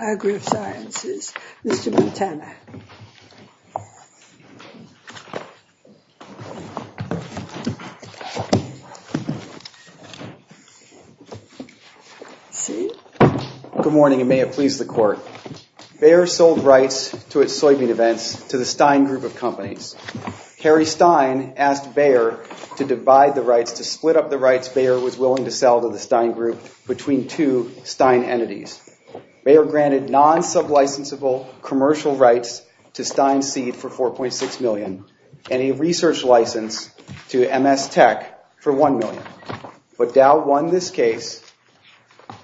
AgroSciences, Mr. Montana. Good morning, and may it please the court. Bayer sold rights to its soybean events to the Stein Group of companies. Harry Stein asked Bayer to divide the rights, to split up the rights Bayer was willing to sell to the Stein Group between two non-sublicensable commercial rights to Stein Seed for $4.6 million and a research license to MS Tech for $1 million. But Dow won this case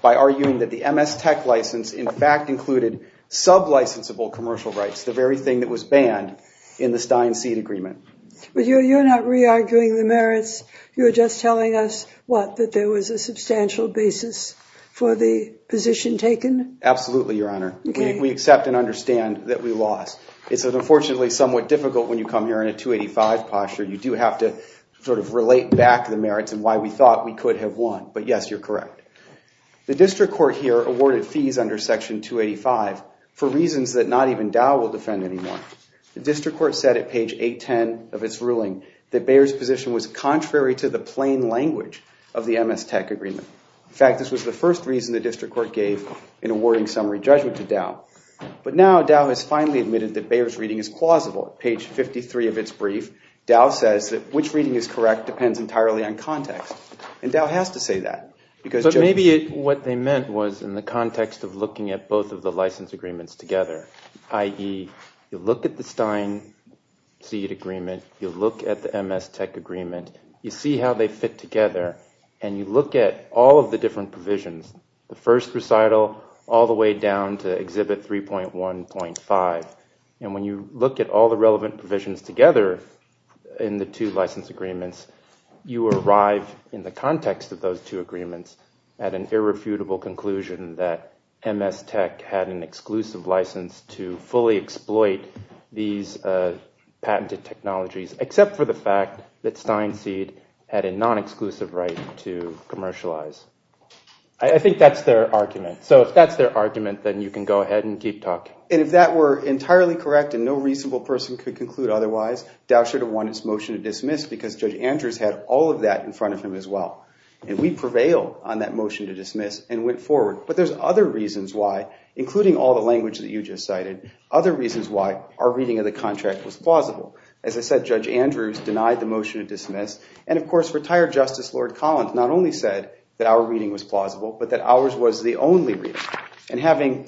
by arguing that the MS Tech license in fact included sublicensable commercial rights, the very thing that was banned in the Stein Seed agreement. But you're not re-arguing the merits, you're just telling us what, that there was a substantial basis for the We accept and understand that we lost. It's unfortunately somewhat difficult when you come here in a 285 posture. You do have to sort of relate back the merits and why we thought we could have won. But yes, you're correct. The district court here awarded fees under section 285 for reasons that not even Dow will defend anymore. The district court said at page 810 of its ruling that Bayer's position was contrary to the plain language of the MS Tech agreement. In fact, this was the first reason the district court gave in awarding summary judgment to Dow. But now Dow has finally admitted that Bayer's reading is plausible. Page 53 of its brief, Dow says that which reading is correct depends entirely on context. And Dow has to say that. But maybe what they meant was in the context of looking at both of the license agreements together, i.e. you look at the Stein Seed agreement, you look at the MS Tech agreement, you see how they fit together and you look at all of the different provisions, the first recital all the way down to exhibit 3.1.5. And when you look at all the relevant provisions together in the two license agreements, you arrive in the context of those two agreements at an irrefutable conclusion that MS Tech had an exclusive license to fully exploit these patented technologies, except for the fact that Stein Seed had a non-exclusive right to commercialize. I think that's their argument. So if that's their argument, then you can go ahead and keep talking. And if that were entirely correct and no reasonable person could conclude otherwise, Dow should have won its motion to dismiss because Judge Andrews had all of that in front of him as well. And we prevailed on that motion to dismiss and went forward. But there's other reasons why, including all the language that you just cited, other reasons why our reading of the contract was plausible. As I said, Judge Andrews denied the motion to dismiss. And of course, retired Justice Lord Collins not only said that our reading was plausible, but that ours was the only reading.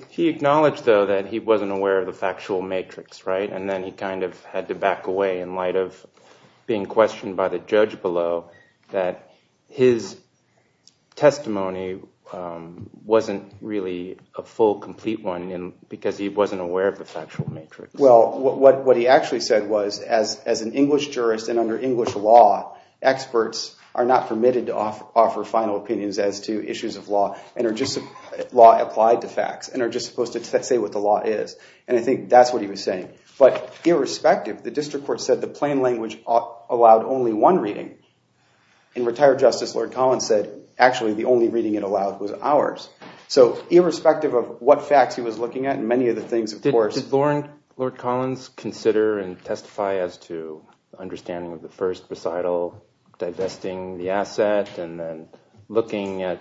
He acknowledged, though, that he wasn't aware of the factual matrix, right? And then he kind of had to back away in light of being questioned by the judge below that his testimony wasn't really a full, complete one because he wasn't aware of the factual matrix. Well, what he actually said was, as an English jurist and under English law, experts are not permitted to offer final opinions as to issues of law and are just law applied to facts and are just supposed to say what the law is. And I think that's what he was saying. But irrespective, the district court said the plain language allowed only one reading. And retired Justice Lord Collins said, actually, the only reading it allowed was ours. So, irrespective of what facts he was looking at and many of the things, of course... Did Lord Collins consider and testify as to understanding of the first recital, divesting the asset, and then looking at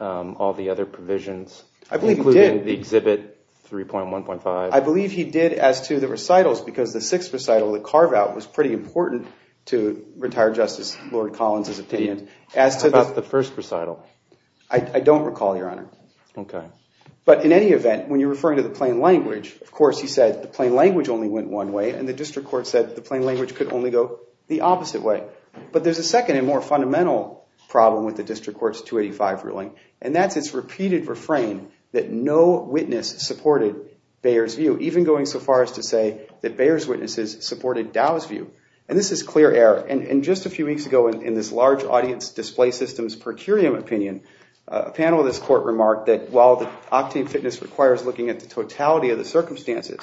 all the other provisions, including the Exhibit 3.1.5? I believe he did as to the recitals because the sixth recital, the carve-out, was pretty important to But, in any event, when you're referring to the plain language, of course, he said the plain language only went one way and the district court said the plain language could only go the opposite way. But there's a second and more fundamental problem with the district court's 285 ruling, and that's its repeated refrain that no witness supported Bayer's view, even going so far as to say that Bayer's witnesses supported Dow's view. And this is clear error. And just a few weeks ago, in this large audience display systems per curiam opinion, a panel of this court remarked that while the octane fitness requires looking at the totality of the circumstances,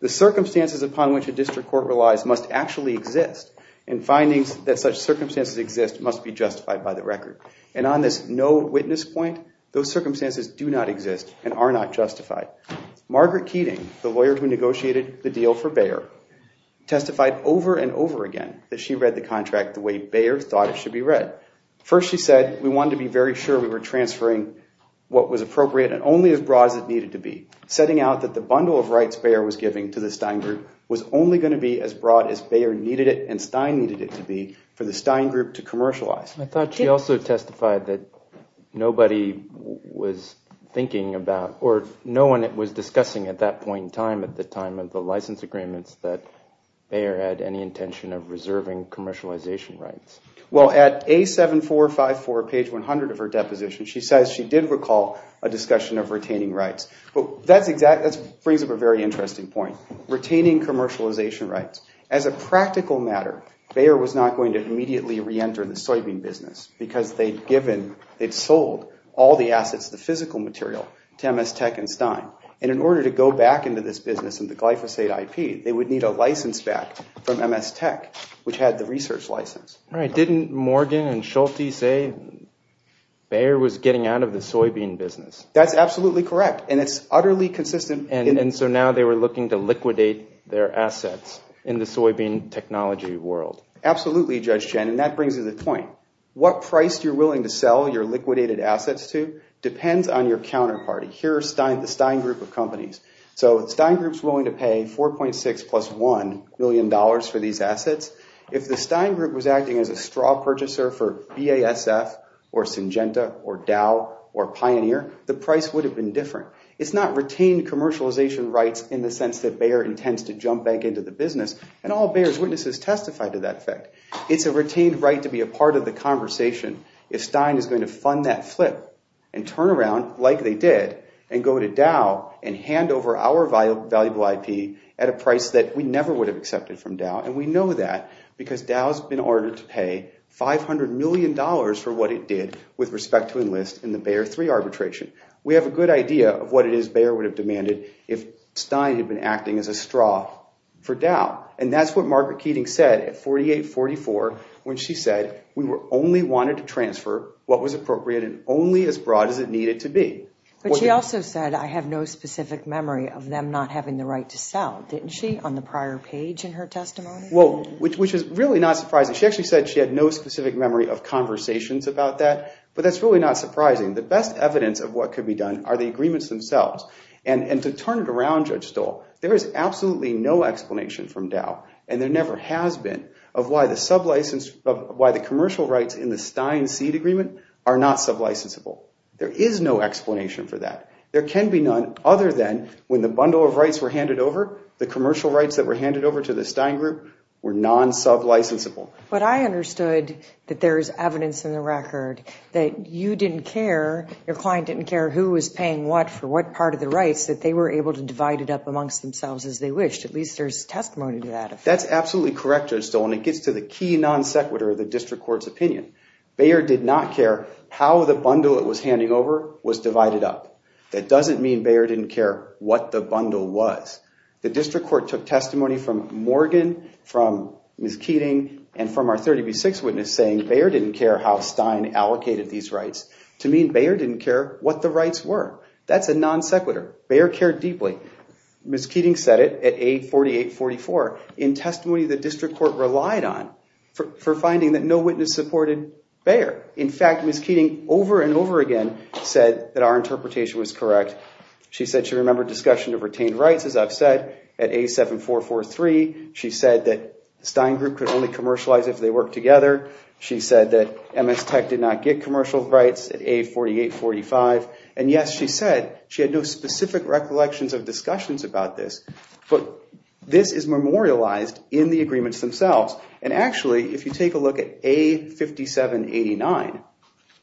the circumstances upon which a district court relies must actually exist and findings that such circumstances exist must be justified by the record. And on this no witness point, those circumstances do not exist and are not justified. Margaret Keating, the lawyer who negotiated the deal for Bayer, testified over and over again that she read the contract the way Bayer thought it should be read. First, she said, we wanted to be very sure we were transferring what was appropriate and only as broad as it needed to be. Setting out that the bundle of rights Bayer was giving to the Stein group was only going to be as broad as Bayer needed it and Stein needed it to be for the Stein group to commercialize. I thought she also testified that nobody was thinking about or no one was discussing at that point in time at the time of the license agreements that Bayer had any intention of reserving commercialization rights. Well, at A7454, page 100 of her deposition, she says she did recall a discussion of retaining rights. But that's exactly, that brings up a very interesting point. Retaining commercialization rights. As a practical matter, Bayer was not going to immediately re-enter the soybean business because they'd given, they'd sold all the assets, the physical material to MS Tech and Stein. And in order to go back into this business and the Didn't Morgan and Schulte say Bayer was getting out of the soybean business. That's absolutely correct. And it's utterly consistent. And so now they were looking to liquidate their assets in the soybean technology world. Absolutely, Judge Chen, and that brings to the point. What price you're willing to sell your liquidated assets to depends on your counterparty. Here's the Stein group of companies. So Stein group's willing to pay 4.6 plus 1 million dollars for these assets. If the Stein group was acting as a straw purchaser for BASF or Syngenta or Dow or Pioneer, the price would have been different. It's not retained commercialization rights in the sense that Bayer intends to jump back into the business and all Bayer's witnesses testify to that effect. It's a retained right to be a part of the conversation if Stein is going to fund that flip and turn around like they did and go to Dow and hand over our valuable IP at a price that we never would have accepted from Dow. And we know that because Dow's been ordered to pay 500 million dollars for what it did with respect to enlist in the Bayer 3 arbitration. We have a good idea of what it is Bayer would have demanded if Stein had been acting as a straw for Dow. And that's what Margaret Keating said at 48-44 when she said we were only wanted to transfer what was appropriate and only as broad as it needed to be. But she also said I have no specific memory of them not having the right to sell, didn't she, on the prior page in her testimony? Well, which is really not surprising. She actually said she had no specific memory of conversations about that, but that's really not surprising. The best evidence of what could be done are the agreements themselves. And to turn it around, Judge Stoll, there is absolutely no explanation from Dow and there never has been of why the There can be none other than when the bundle of rights were handed over, the commercial rights that were handed over to the Stein group were non-sub-licensable. But I understood that there is evidence in the record that you didn't care, your client didn't care who was paying what for what part of the rights, that they were able to divide it up amongst themselves as they wished. At least there's testimony to that. That's absolutely correct, Judge Stoll, and it gets to the key non-sequitur of the District Court's opinion. Bayer did not care how the bundle it was handing over was divided up. That doesn't mean Bayer didn't care what the bundle was. The District Court took testimony from Morgan, from Ms. Keating, and from our 30B6 witness saying Bayer didn't care how Stein allocated these rights to mean Bayer didn't care what the rights were. That's a non-sequitur. Bayer cared deeply. Ms. Keating said it at A4844 in testimony the District Court relied on for finding that no witness supported Bayer. In fact, Ms. Keating over and over again said that our interpretation was correct. She said she remembered discussion of retained rights, as I've said, at A7443. She said that the Stein group could only commercialize if they worked together. She said that MS Tech did not get commercial rights at A4845. And yes, she said she had no specific recollections of discussions about this, but this is memorialized in the agreements themselves. And actually, if you take a look at A5789,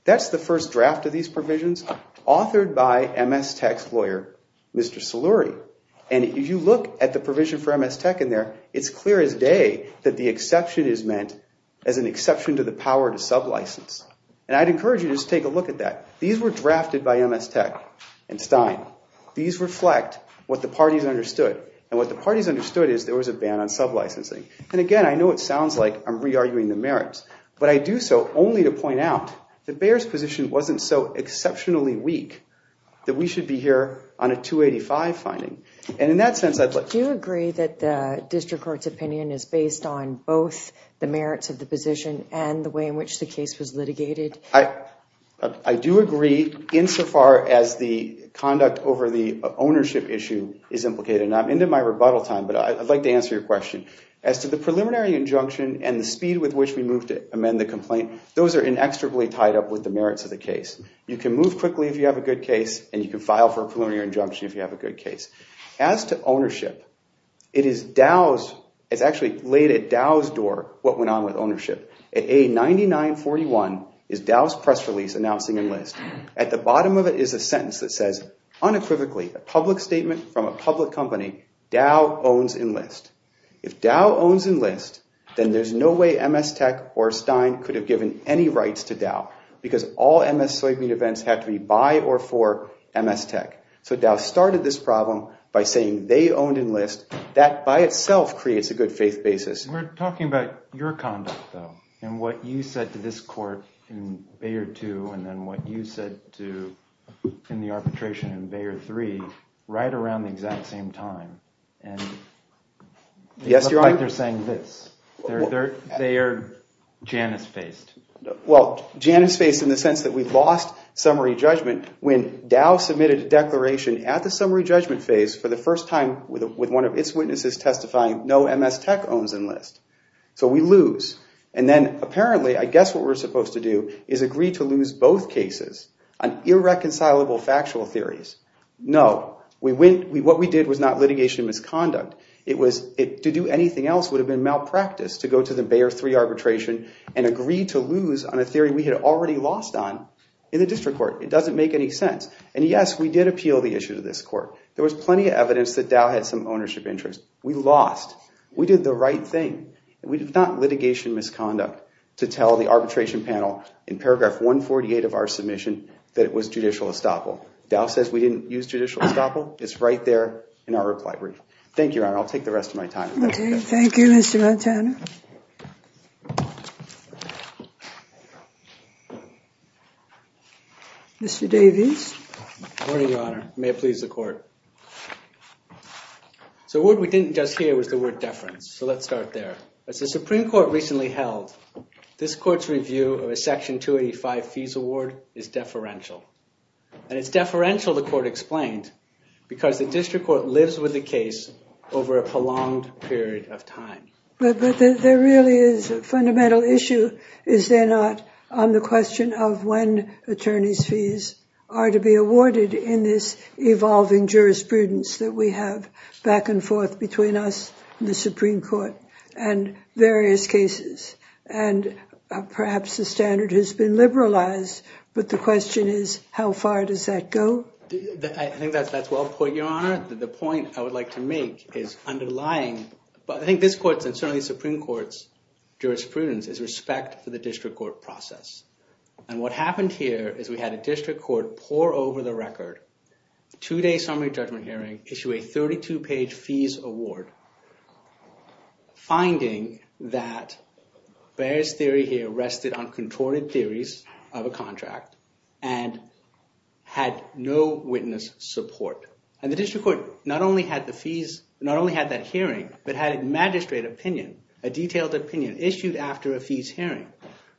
that's the first draft of these provisions authored by MS Tech's lawyer, Mr. Saluri. And if you look at the provision for MS Tech in there, it's clear as day that the exception is meant as an exception to the power to sub-license. And I'd encourage you to just take a look at that. These were drafted by MS Tech and Stein. These reflect what the parties understood. And what the parties understood is there was a ban on sub-licensing. And again, I know it sounds like I'm re-arguing the merits, but I do so only to point out that Bayer's position wasn't so exceptionally weak that we should be here on a 285 finding. And in that sense, I'd like to... I do agree insofar as the conduct over the ownership issue is implicated. And I'm into my rebuttal time, but I'd like to answer your question. As to the preliminary injunction and the speed with which we moved to amend the complaint, those are inextricably tied up with the merits of the case. You can move quickly if you have a good case, and you can file for a preliminary injunction if you have a good case. As to ownership, it is Dow's, it's actually laid at Dow's door what went on with ownership. At A9941 is Dow's press release announcing enlist. At the bottom of it is a sentence that says unequivocally, a public statement from a public company, Dow owns enlist. If Dow owns enlist, then there's no way MS Tech or Stein could have given any rights to Dow because all MS Soybean events have to be by or for MS Tech. So Dow started this problem by saying they owned enlist. That by itself creates a good faith basis. We're talking about your conduct, though, and what you said to this court in Bayer 2, and then what you said to, in the arbitration in Bayer 3, right around the exact same time. And they look like they're saying this. They are Janus-faced. Well, Janus-faced in the sense that we've lost summary judgment when Dow submitted a declaration at the summary judgment phase for the first time with one of its witnesses testifying, no MS Tech owns enlist. So we lose. And then apparently, I guess what we're supposed to do is agree to lose both cases on irreconcilable factual theories. No. What we did was not litigation misconduct. To do anything else would have been malpractice to go to the Bayer 3 arbitration and agree to lose on a theory we had already lost on in the district court. It doesn't make any sense. And yes, we did appeal the issue to this court. There was plenty of evidence that Dow had some ownership interest. We lost. We did the right thing. We did not litigation misconduct to tell the arbitration panel in paragraph 148 of our submission that it was judicial estoppel. Dow says we didn't use judicial estoppel. It's right there in our reply brief. Thank you, Your Honor. I'll take the rest of my time. Thank you. Thank you, Mr. Montana. Mr. Davies. Good morning, Your Honor. May it please the court. So what we didn't just hear was the word deference. So let's start there. As the Supreme Court recently held, this court's review of a Section 285 fees award is deferential. And it's deferential, the court explained, because the district court lives with the case over a prolonged period of time. But there really is a fundamental issue, is there not, on the question of when attorney's fees are to be awarded in this evolving jurisprudence that we have back and forth between us and the Supreme Court and various cases. And perhaps the standard has been liberalized, but the question is, how far does that go? I think that's well put, Your Honor. The point I would like to make is underlying, but I think this court's and certainly the Supreme Court's jurisprudence is respect for the district court process. And what happened here is we had a district court pour over the record, two-day summary judgment hearing, issue a 32-page fees award, finding that Bayer's theory here rested on contorted theories of a contract and had no witness support. And the district court not only had the fees, not only had that hearing, but had a magistrate opinion, a detailed opinion issued after a fees hearing.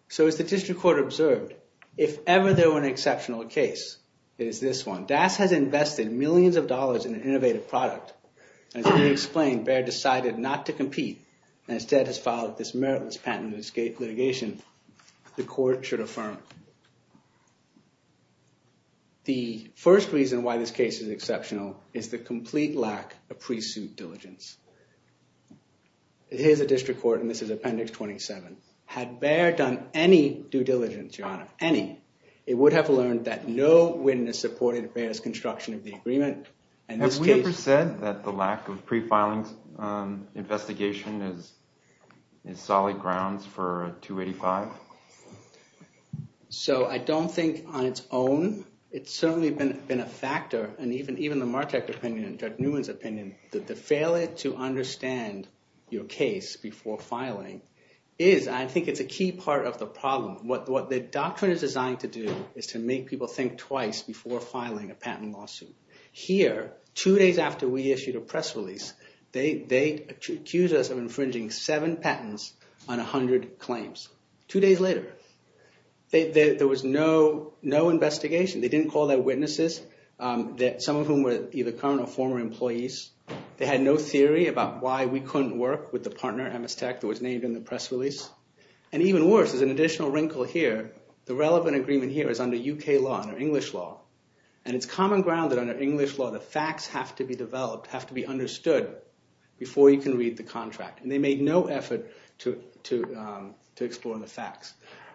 So as the district court observed, if ever there were an exceptional case, it is this one, DAS has invested millions of dollars in an innovative product and as we explained, Bayer decided not to compete and instead has filed this meritless patent in this litigation, the court should affirm. The first reason why this case is exceptional is the complete lack of pre-suit diligence. Here's a district court and this is Appendix 27, had Bayer done any due diligence, Your Honor, any, it would have learned that no witness supported Bayer's construction of the agreement and this case... Have we ever said that the lack of pre-filing investigation is solid grounds for 285? So I don't think on its own, it's certainly been a factor and even the Martek opinion and Judge Newman's opinion, the failure to understand your case before filing is, I think it's a key part of the problem. What the doctrine is designed to do is to make people think twice before filing a patent lawsuit. Here, two days after we issued a press release, they accused us of infringing seven patents on 100 claims. Two days later, there was no investigation. They didn't call their witnesses, some of whom were either current or former employees. They had no theory about why we couldn't work with the partner, Amistec, that was named in the press release. And even worse, there's an additional wrinkle here. The relevant agreement here is under UK law, under English law. And it's common ground that under English law, the facts have to be developed, have to be understood before you can read the contract. And they made no effort to explore the facts.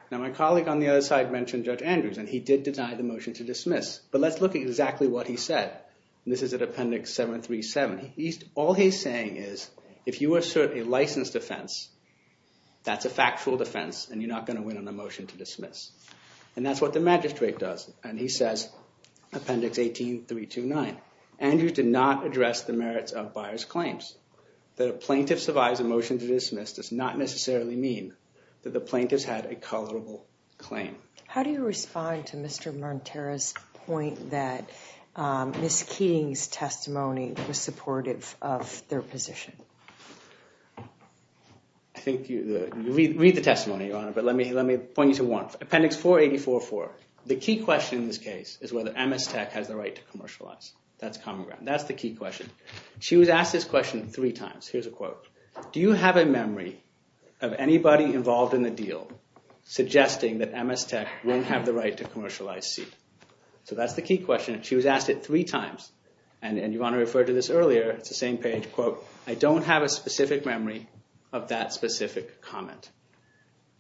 Now, my colleague on the other side mentioned Judge Andrews, and he did deny the motion to dismiss. But let's look at exactly what he said. This is at Appendix 737. All he's saying is, if you assert a licensed offense, that's a factual defense, and you're not going to win on the motion to dismiss. And that's what the magistrate does. And he says, Appendix 18329, Andrews did not address the merits of buyer's claims. That a plaintiff survives a motion to dismiss does not necessarily mean that the plaintiff's had a culpable claim. How do you respond to Mr. Montero's point that Ms. Keating's testimony was supportive of their position? I think you read the testimony, Your Honor, but let me point you to one. Appendix 4844. The key question in this case is whether Amistec has the right to commercialize. That's common ground. That's the key question. She was asked this question three times. Here's a quote. Do you have a memory of anybody involved in the deal suggesting that Amistec wouldn't have the right to commercialize seed? So that's the key question. She was asked it three times. And you want to refer to this earlier. It's the same page. Quote, I don't have a specific memory of that specific comment.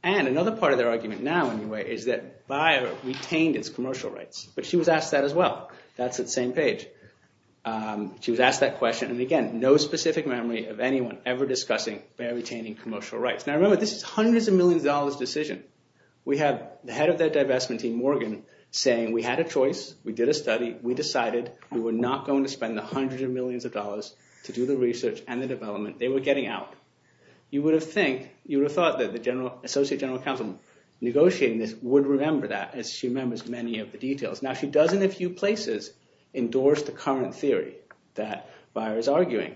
And another part of their argument now, anyway, is that buyer retained its commercial rights. But she was asked that as well. That's the same page. She was asked that question. And again, no specific memory of anyone ever discussing buyer retaining commercial rights. Now, remember, this is hundreds of millions of dollars decision. We have the head of that divestment team, Morgan, saying we had a choice. We did a study. We decided we were not going to spend the hundreds of millions of dollars to do the research and the development they were getting out. You would have thought that the associate general counsel negotiating this would remember that, as she remembers many of the details. Now, she does, in a few places, endorse the current theory that buyer is arguing.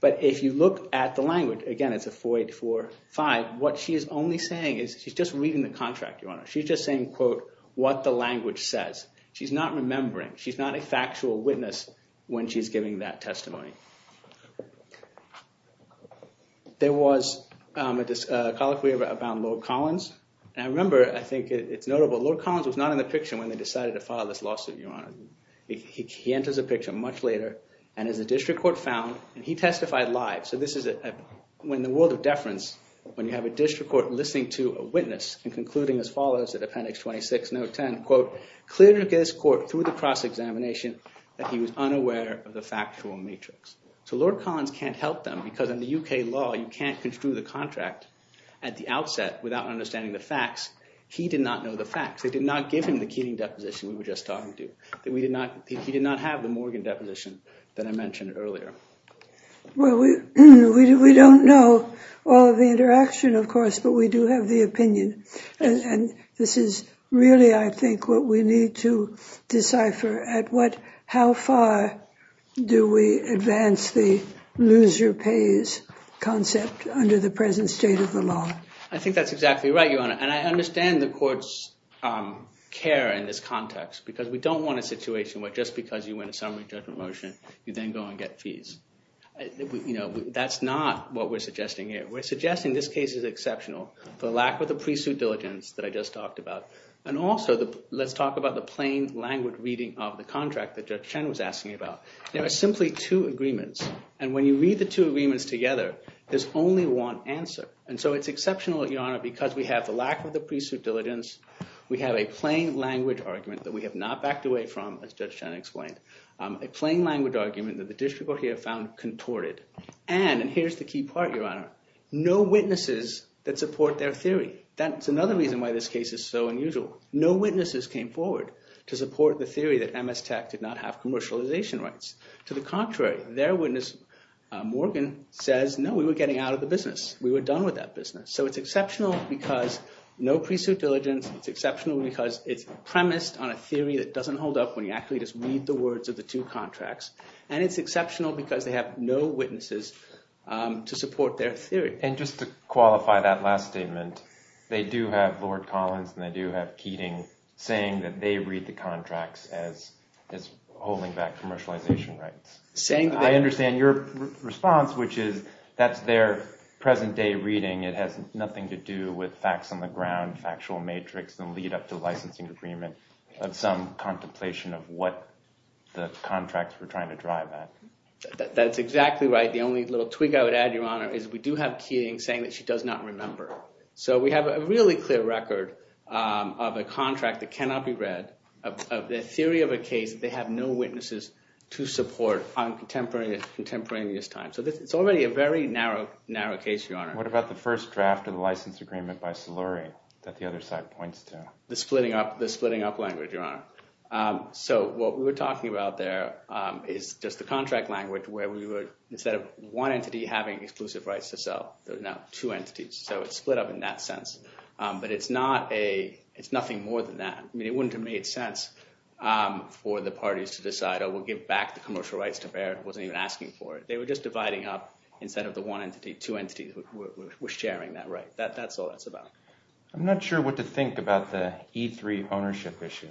But if you look at the language, again, it's a 4845, what she is only saying is she's just reading the contract, Your Honor. She's just saying, quote, what the language says. She's not remembering. She's not a factual witness when she's giving that testimony. There was a colloquy about Lord Collins. I remember, I think it's notable, Lord Collins was not in the picture when they decided to file this lawsuit, Your Honor. He enters a picture much later, and as the district court found, and he testified live, so this is when the world of deference, when you have a district court listening to a witness and concluding as follows at appendix 26, note 10, quote, clear to this court through the cross-examination that he was unaware of the factual matrix. So Lord Collins can't help them because in the UK law, you can't construe the contract at the outset without understanding the facts. He did not know the facts. They did not give him the Keating deposition we were just talking to. He did not have the Morgan deposition that I mentioned earlier. Well, we don't know all of the interaction, of course, but we do have the opinion. And this is really, I think, what we need to decipher at what, how far do we advance the loser pays concept under the present state of the law? I think that's exactly right, Your Honor. And I understand the court's care in this context because we don't want a situation where just because you win a summary judgment motion, you then go and get fees. That's not what we're suggesting here. We're suggesting this case is exceptional for lack of the pre-suit diligence that I just talked about. And also, let's talk about the plain language reading of the contract that Judge Chen was asking about. There are simply two agreements, and when you read the two agreements together, there's only one answer. And so it's exceptional, Your Honor, because we have the lack of the pre-suit diligence. We have a plain language argument that we have not backed away from, as Judge Chen explained, a plain language argument that the district court here found contorted. And, and here's the key part, Your Honor, no witnesses that support their theory. That's another reason why this case is so unusual. No witnesses came forward to support the theory that MS Tech did not have commercialization rights. To the contrary, their witness, Morgan, says, no, we were getting out of the deal with that business. So it's exceptional because no pre-suit diligence. It's exceptional because it's premised on a theory that doesn't hold up when you actually just read the words of the two contracts. And it's exceptional because they have no witnesses to support their theory. And just to qualify that last statement, they do have Lord Collins and they do have Keating saying that they read the contracts as, as holding back commercialization rights. I understand your response, which is that's their present day reading. It has nothing to do with facts on the ground, factual matrix, and lead up to licensing agreement of some contemplation of what the contracts were trying to drive at. That's exactly right. The only little tweak I would add, Your Honor, is we do have Keating saying that she does not remember. So we have a really clear record of a contract that cannot be read of the theory of a case that they have no witnesses to support on contemporaneous time. So it's already a very narrow, narrow case, Your Honor. What about the first draft of the license agreement by Solori that the other side points to? The splitting up, the splitting up language, Your Honor. So what we were talking about there is just the contract language where we would, instead of one entity having exclusive rights to sell, there's now two entities. So it's split up in that sense. But it's not a, it's nothing more than that. I mean, it wouldn't have made sense. For the parties to decide, oh, we'll give back the commercial rights to Baird. Wasn't even asking for it. They were just dividing up instead of the one entity, two entities were sharing that right. That's all that's about. I'm not sure what to think about the E3 ownership issue.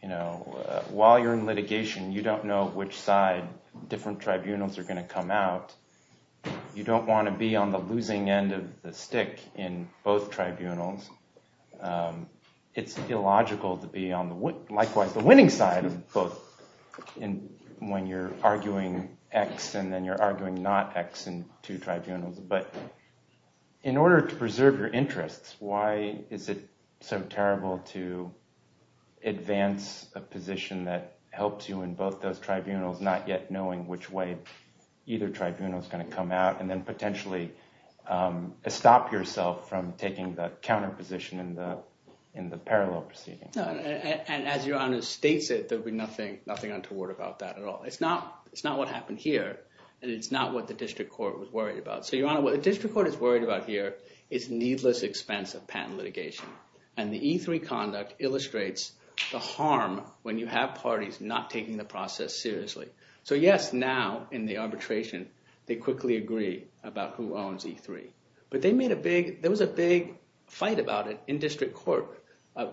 You know, while you're in litigation, you don't know which side different tribunals are going to come out. You don't want to be on the losing end of the stick in both tribunals. It's illogical to be on the, likewise, the winning side of both when you're arguing X and then you're arguing not X in two tribunals. But in order to preserve your interests, why is it so terrible to advance a position that helps you in both those tribunals, not yet knowing which way either tribunal is going to come out and then potentially stop yourself from taking the counterparty's position in the parallel proceeding? And as Your Honor states it, there'll be nothing untoward about that at all. It's not what happened here and it's not what the district court was worried about. So Your Honor, what the district court is worried about here is needless expense of patent litigation. And the E3 conduct illustrates the harm when you have parties not taking the process seriously. So yes, now in the arbitration, they quickly agree about who owns E3. But they made a big, there was a big fight about it in district court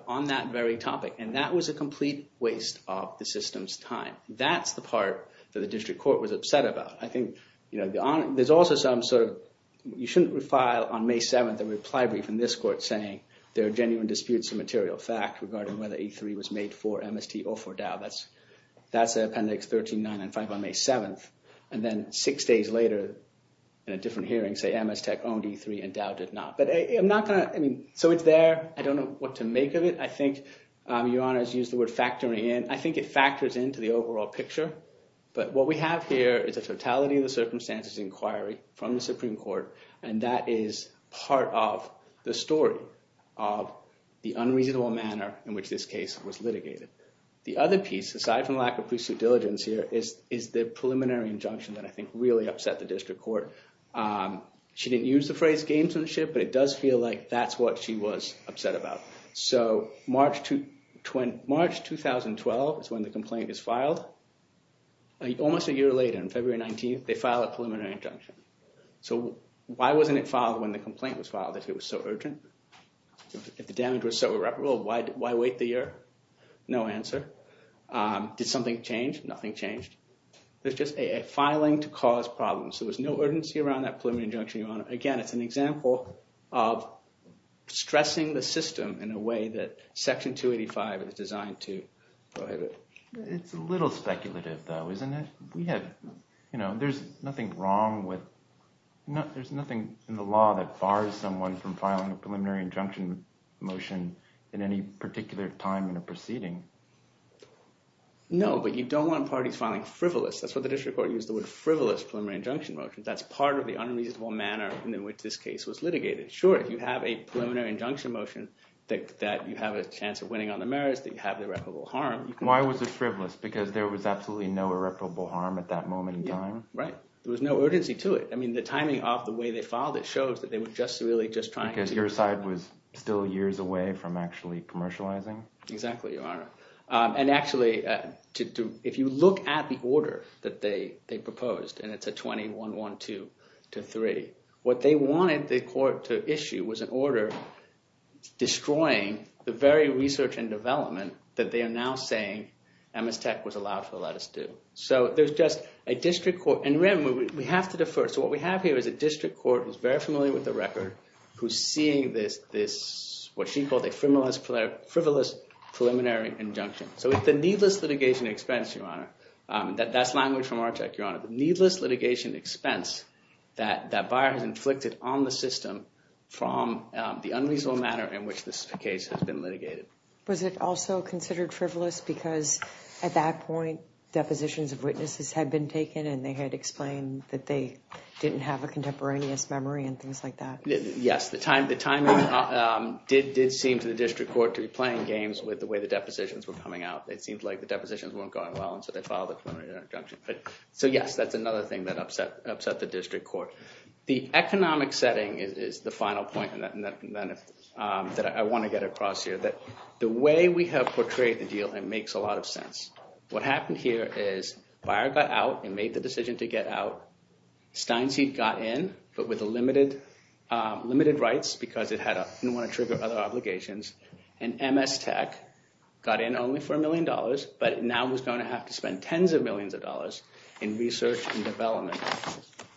on that very topic. And that was a complete waste of the system's time. That's the part that the district court was upset about. I think, you know, there's also some sort of, you shouldn't refile on May 7th a reply brief from this court saying there are genuine disputes of material fact regarding whether E3 was made for MST or for Dow. That's Appendix 13, 9 and 5 on May 7th. And then six days later in a different hearing say MST owned E3 and Dow did not. But I'm not going to, I mean, so it's there. I don't know what to make of it. I think Your Honor has used the word factoring in. I think it factors into the overall picture. But what we have here is a totality of the circumstances inquiry from the Supreme Court. And that is part of the story of the unreasonable manner in which this case was litigated. The other piece, aside from lack of precinct diligence here, is the preliminary injunction that I think really upset the district court. She didn't use the phrase gamesmanship, but it does feel like that's what she was upset about. So March 2012 is when the complaint is filed. Almost a year later, on February 19th, they file a preliminary injunction. So why wasn't it filed when the complaint was filed, if it was so urgent? If the damage was so irreparable, why wait the year? No answer. Did something change? Nothing changed. There's just a filing to cause problems. There was no urgency around that preliminary injunction, Your Honor. Again, it's an example of stressing the system in a way that Section 285 is designed to prohibit. It's a little speculative, though, isn't it? We have, you know, there's nothing wrong with, there's nothing in the law that bars someone from filing a preliminary injunction motion in any particular time in a proceeding. No, but you don't want parties filing frivolous. That's what the district court used the word frivolous preliminary injunction motion. That's part of the unreasonable manner in which this case was litigated. Sure, if you have a preliminary injunction motion that you have a chance of winning on the merits, that you have the irreparable harm. Why was it frivolous? Because there was absolutely no irreparable harm at that moment in time? Right. There was no urgency to it. I mean, the timing of the way they filed it shows that they were just really just trying to... Because your side was still years away from actually commercializing? Exactly, Your Honor. And actually, if you look at the order that they proposed, and it's a 21-1-2-3, what they wanted the court to issue was an order destroying the very research and development that they are now saying MS Tech was allowed to let us do. So there's just a district court, and remember, we have to defer. So what we have here is a district court who's very familiar with the record, who's So with the needless litigation expense, Your Honor, that's language from our tech, Your Honor, the needless litigation expense that that buyer has inflicted on the system from the unreasonable manner in which this case has been litigated. Was it also considered frivolous because at that point, depositions of witnesses had been taken and they had explained that they didn't have a contemporaneous memory and things like that? Yes, the timing did seem to the district court to be playing games with the way depositions were coming out. It seemed like the depositions weren't going well, and so they filed a preliminary injunction. But so, yes, that's another thing that upset the district court. The economic setting is the final point that I want to get across here, that the way we have portrayed the deal, it makes a lot of sense. What happened here is buyer got out and made the decision to get out. Steinseed got in, but with limited rights because it didn't want to trigger other obligations, and MS Tech got in only for a million dollars, but now was going to have to spend tens of millions of dollars in research and development.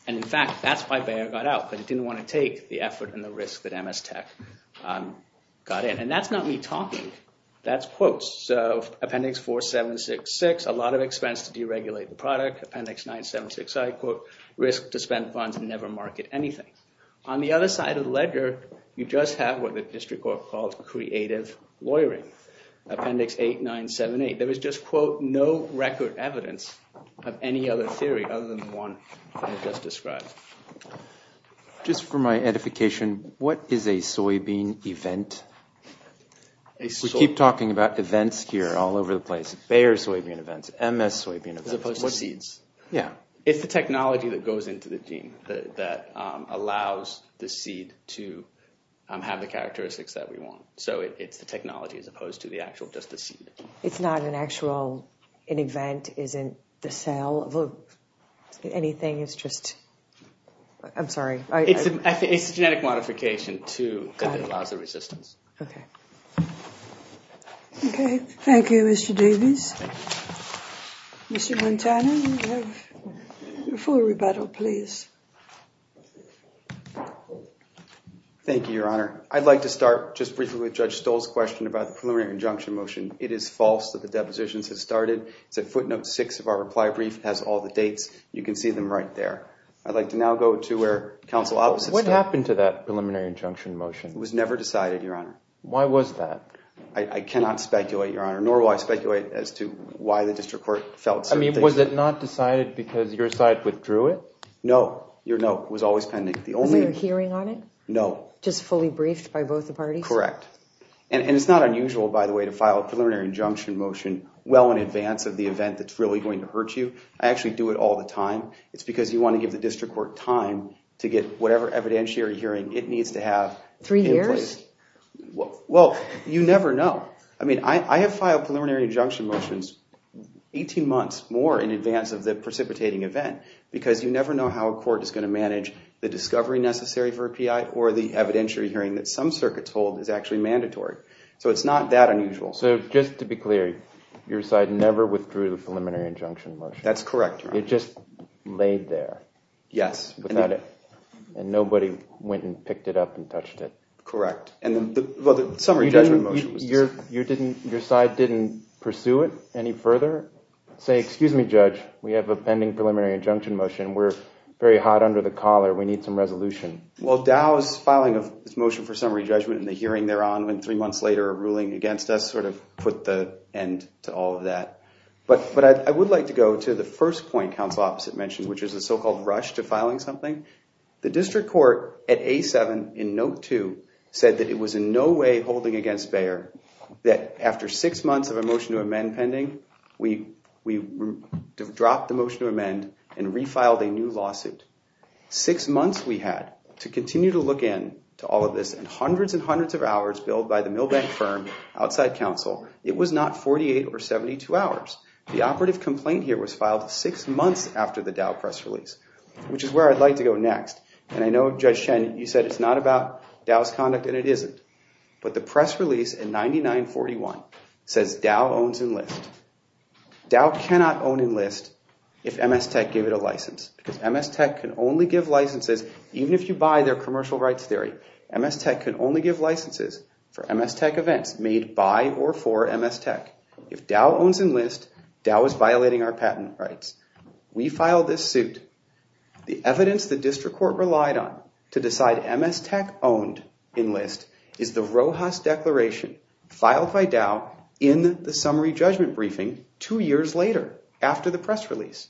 And in fact, that's why buyer got out, but it didn't want to take the effort and the risk that MS Tech got in. And that's not me talking, that's quotes. So Appendix 4, 7, 6, 6, a lot of expense to deregulate the product. Appendix 9, 7, 6, I quote, risk to spend funds and never market anything. On the other side of the ledger, you just have what the district court called creative lawyering. Appendix 8, 9, 7, 8, there was just, quote, no record evidence of any other theory other than the one I just described. Just for my edification, what is a soybean event? We keep talking about events here all over the place. Bayer soybean events, MS soybean events. As opposed to seeds. Yeah, it's the technology that goes into the gene that allows the seed to have the characteristics that we want. So it's the technology as opposed to the actual, just the seed. It's not an actual, an event isn't the sale of anything. It's just, I'm sorry. It's a genetic modification, too, that allows the resistance. OK, thank you, Mr. Davis. Mr. Montana, you have full rebuttal, please. Thank you, Your Honor. I'd like to start just briefly with Judge Stoll's question about the preliminary injunction motion. It is false that the depositions have started. It's at footnote six of our reply brief, has all the dates. You can see them right there. I'd like to now go to where counsel. What happened to that preliminary injunction motion? It was never decided, Your Honor. Why was that? I cannot speculate, Your Honor, nor will I speculate as to why the district court felt. I mean, was it not decided because your side withdrew it? No, your note was always pending. The only hearing on it? No. Just fully briefed by both the parties? Correct. And it's not unusual, by the way, to file a preliminary injunction motion well in advance of the event that's really going to hurt you. I actually do it all the time. It's because you want to give the district court time to get whatever evidentiary hearing it needs to have. Three years? Well, you never know. I mean, I have filed preliminary injunction motions 18 months more in advance of the precipitating event because you never know how a court is going to manage the discovery necessary for a PI or the evidentiary hearing that some circuits hold is actually mandatory. So it's not that unusual. So just to be clear, your side never withdrew the preliminary injunction motion. That's correct. It just laid there. Yes. And nobody went and picked it up and touched it. Correct. And then the summary judgment motion. Your side didn't pursue it any further? Say, excuse me, Judge, we have a pending preliminary injunction motion. We're very hot under the collar. We need some resolution. Well, Dow's filing of its motion for summary judgment in the hearing thereon and three months later, a ruling against us sort of put the end to all of that. But I would like to go to the first point counsel Opposite mentioned, which is the so-called rush to filing something. The district court at A7 in note two said that it was in no way holding against Bayer that after six months of a motion to amend pending, we dropped the motion to amend and refiled a new lawsuit. Six months we had to continue to look in to all of this and hundreds and hundreds of hours billed by the Milbank firm outside counsel. It was not 48 or 72 hours. The operative complaint here was filed six months after the Dow press release, which is where I'd like to go next. And I know Judge Chen, you said it's not about Dow's conduct and it isn't, but the press release in 9941 says Dow owns Enlist. Dow cannot own Enlist if MS Tech gave it a license because MS Tech can only give licenses. Even if you buy their commercial rights theory, MS Tech can only give licenses for MS Tech events made by or for MS Tech. If Dow owns Enlist, Dow is violating our patent rights. We filed this suit. The evidence the district court relied on to decide MS Tech owned Enlist is the Rojas declaration filed by Dow in the summary judgment briefing two years later after the press release.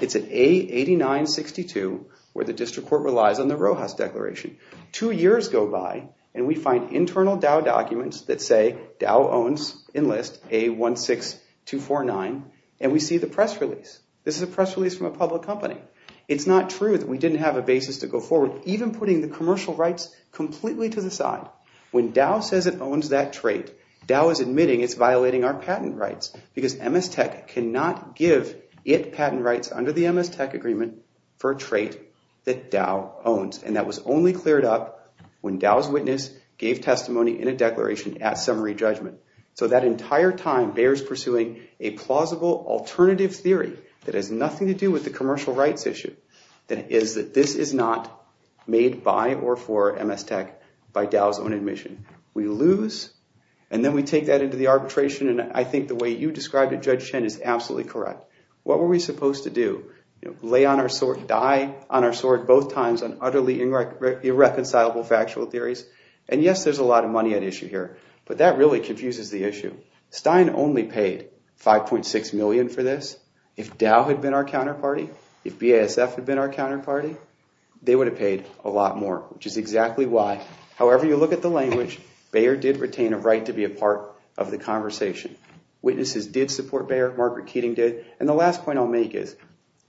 It's an A8962 where the district court relies on the Rojas declaration. Two years go by and we find internal Dow documents that say Dow owns Enlist, A16249, and we see the press release. This is a press release from a public company. It's not true that we didn't have a basis to go forward, even putting the commercial rights completely to the side. When Dow says it owns that trait, Dow is admitting it's violating our patent rights because MS Tech cannot give it patent rights under the MS Tech agreement for a trait that Dow owns. And that was only cleared up when Dow's witness gave testimony in a declaration at summary judgment. So that entire time bears pursuing a plausible alternative theory that has nothing to do with the commercial rights issue, that is that this is not made by or for MS Tech by Dow's own admission. We lose and then we take that into the arbitration. And I think the way you described it, Judge Chen, is absolutely correct. What were we supposed to do? Lay on our sword, die on our sword both times on utterly irreconcilable factual theories? And yes, there's a lot of money at issue here, but that really confuses the issue. Stein only paid $5.6 million for this. If Dow had been our counterparty, if BASF had been our counterparty, they would have paid a lot more, which is exactly why. However, you look at the language, Bayer did retain a right to be a part of the conversation. Witnesses did support Bayer, Margaret Keating did. And the last point I'll make is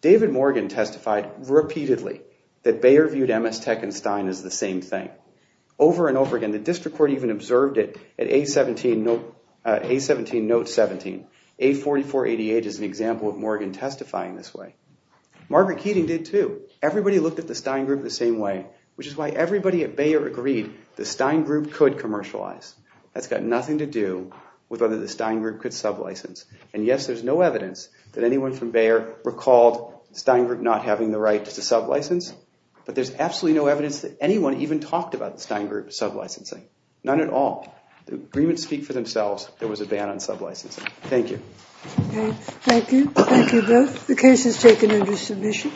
David Morgan testified repeatedly that Bayer viewed MS Tech and Stein as the same thing over and over again. The district court even observed it at A17 note 17. A4488 is an example of Morgan testifying this way. Margaret Keating did, too. Everybody looked at the Stein Group the same way, which is why everybody at Bayer agreed the Stein Group could commercialize. That's got nothing to do with whether the Stein Group could sublicense. And yes, there's no evidence that anyone from Bayer recalled Stein Group not having the right to sublicense. But there's absolutely no evidence that anyone even talked about the Stein Group sublicensing, none at all. The agreements speak for themselves. There was a ban on sublicensing. Thank you. Thank you. Thank you both. The case is taken under submission.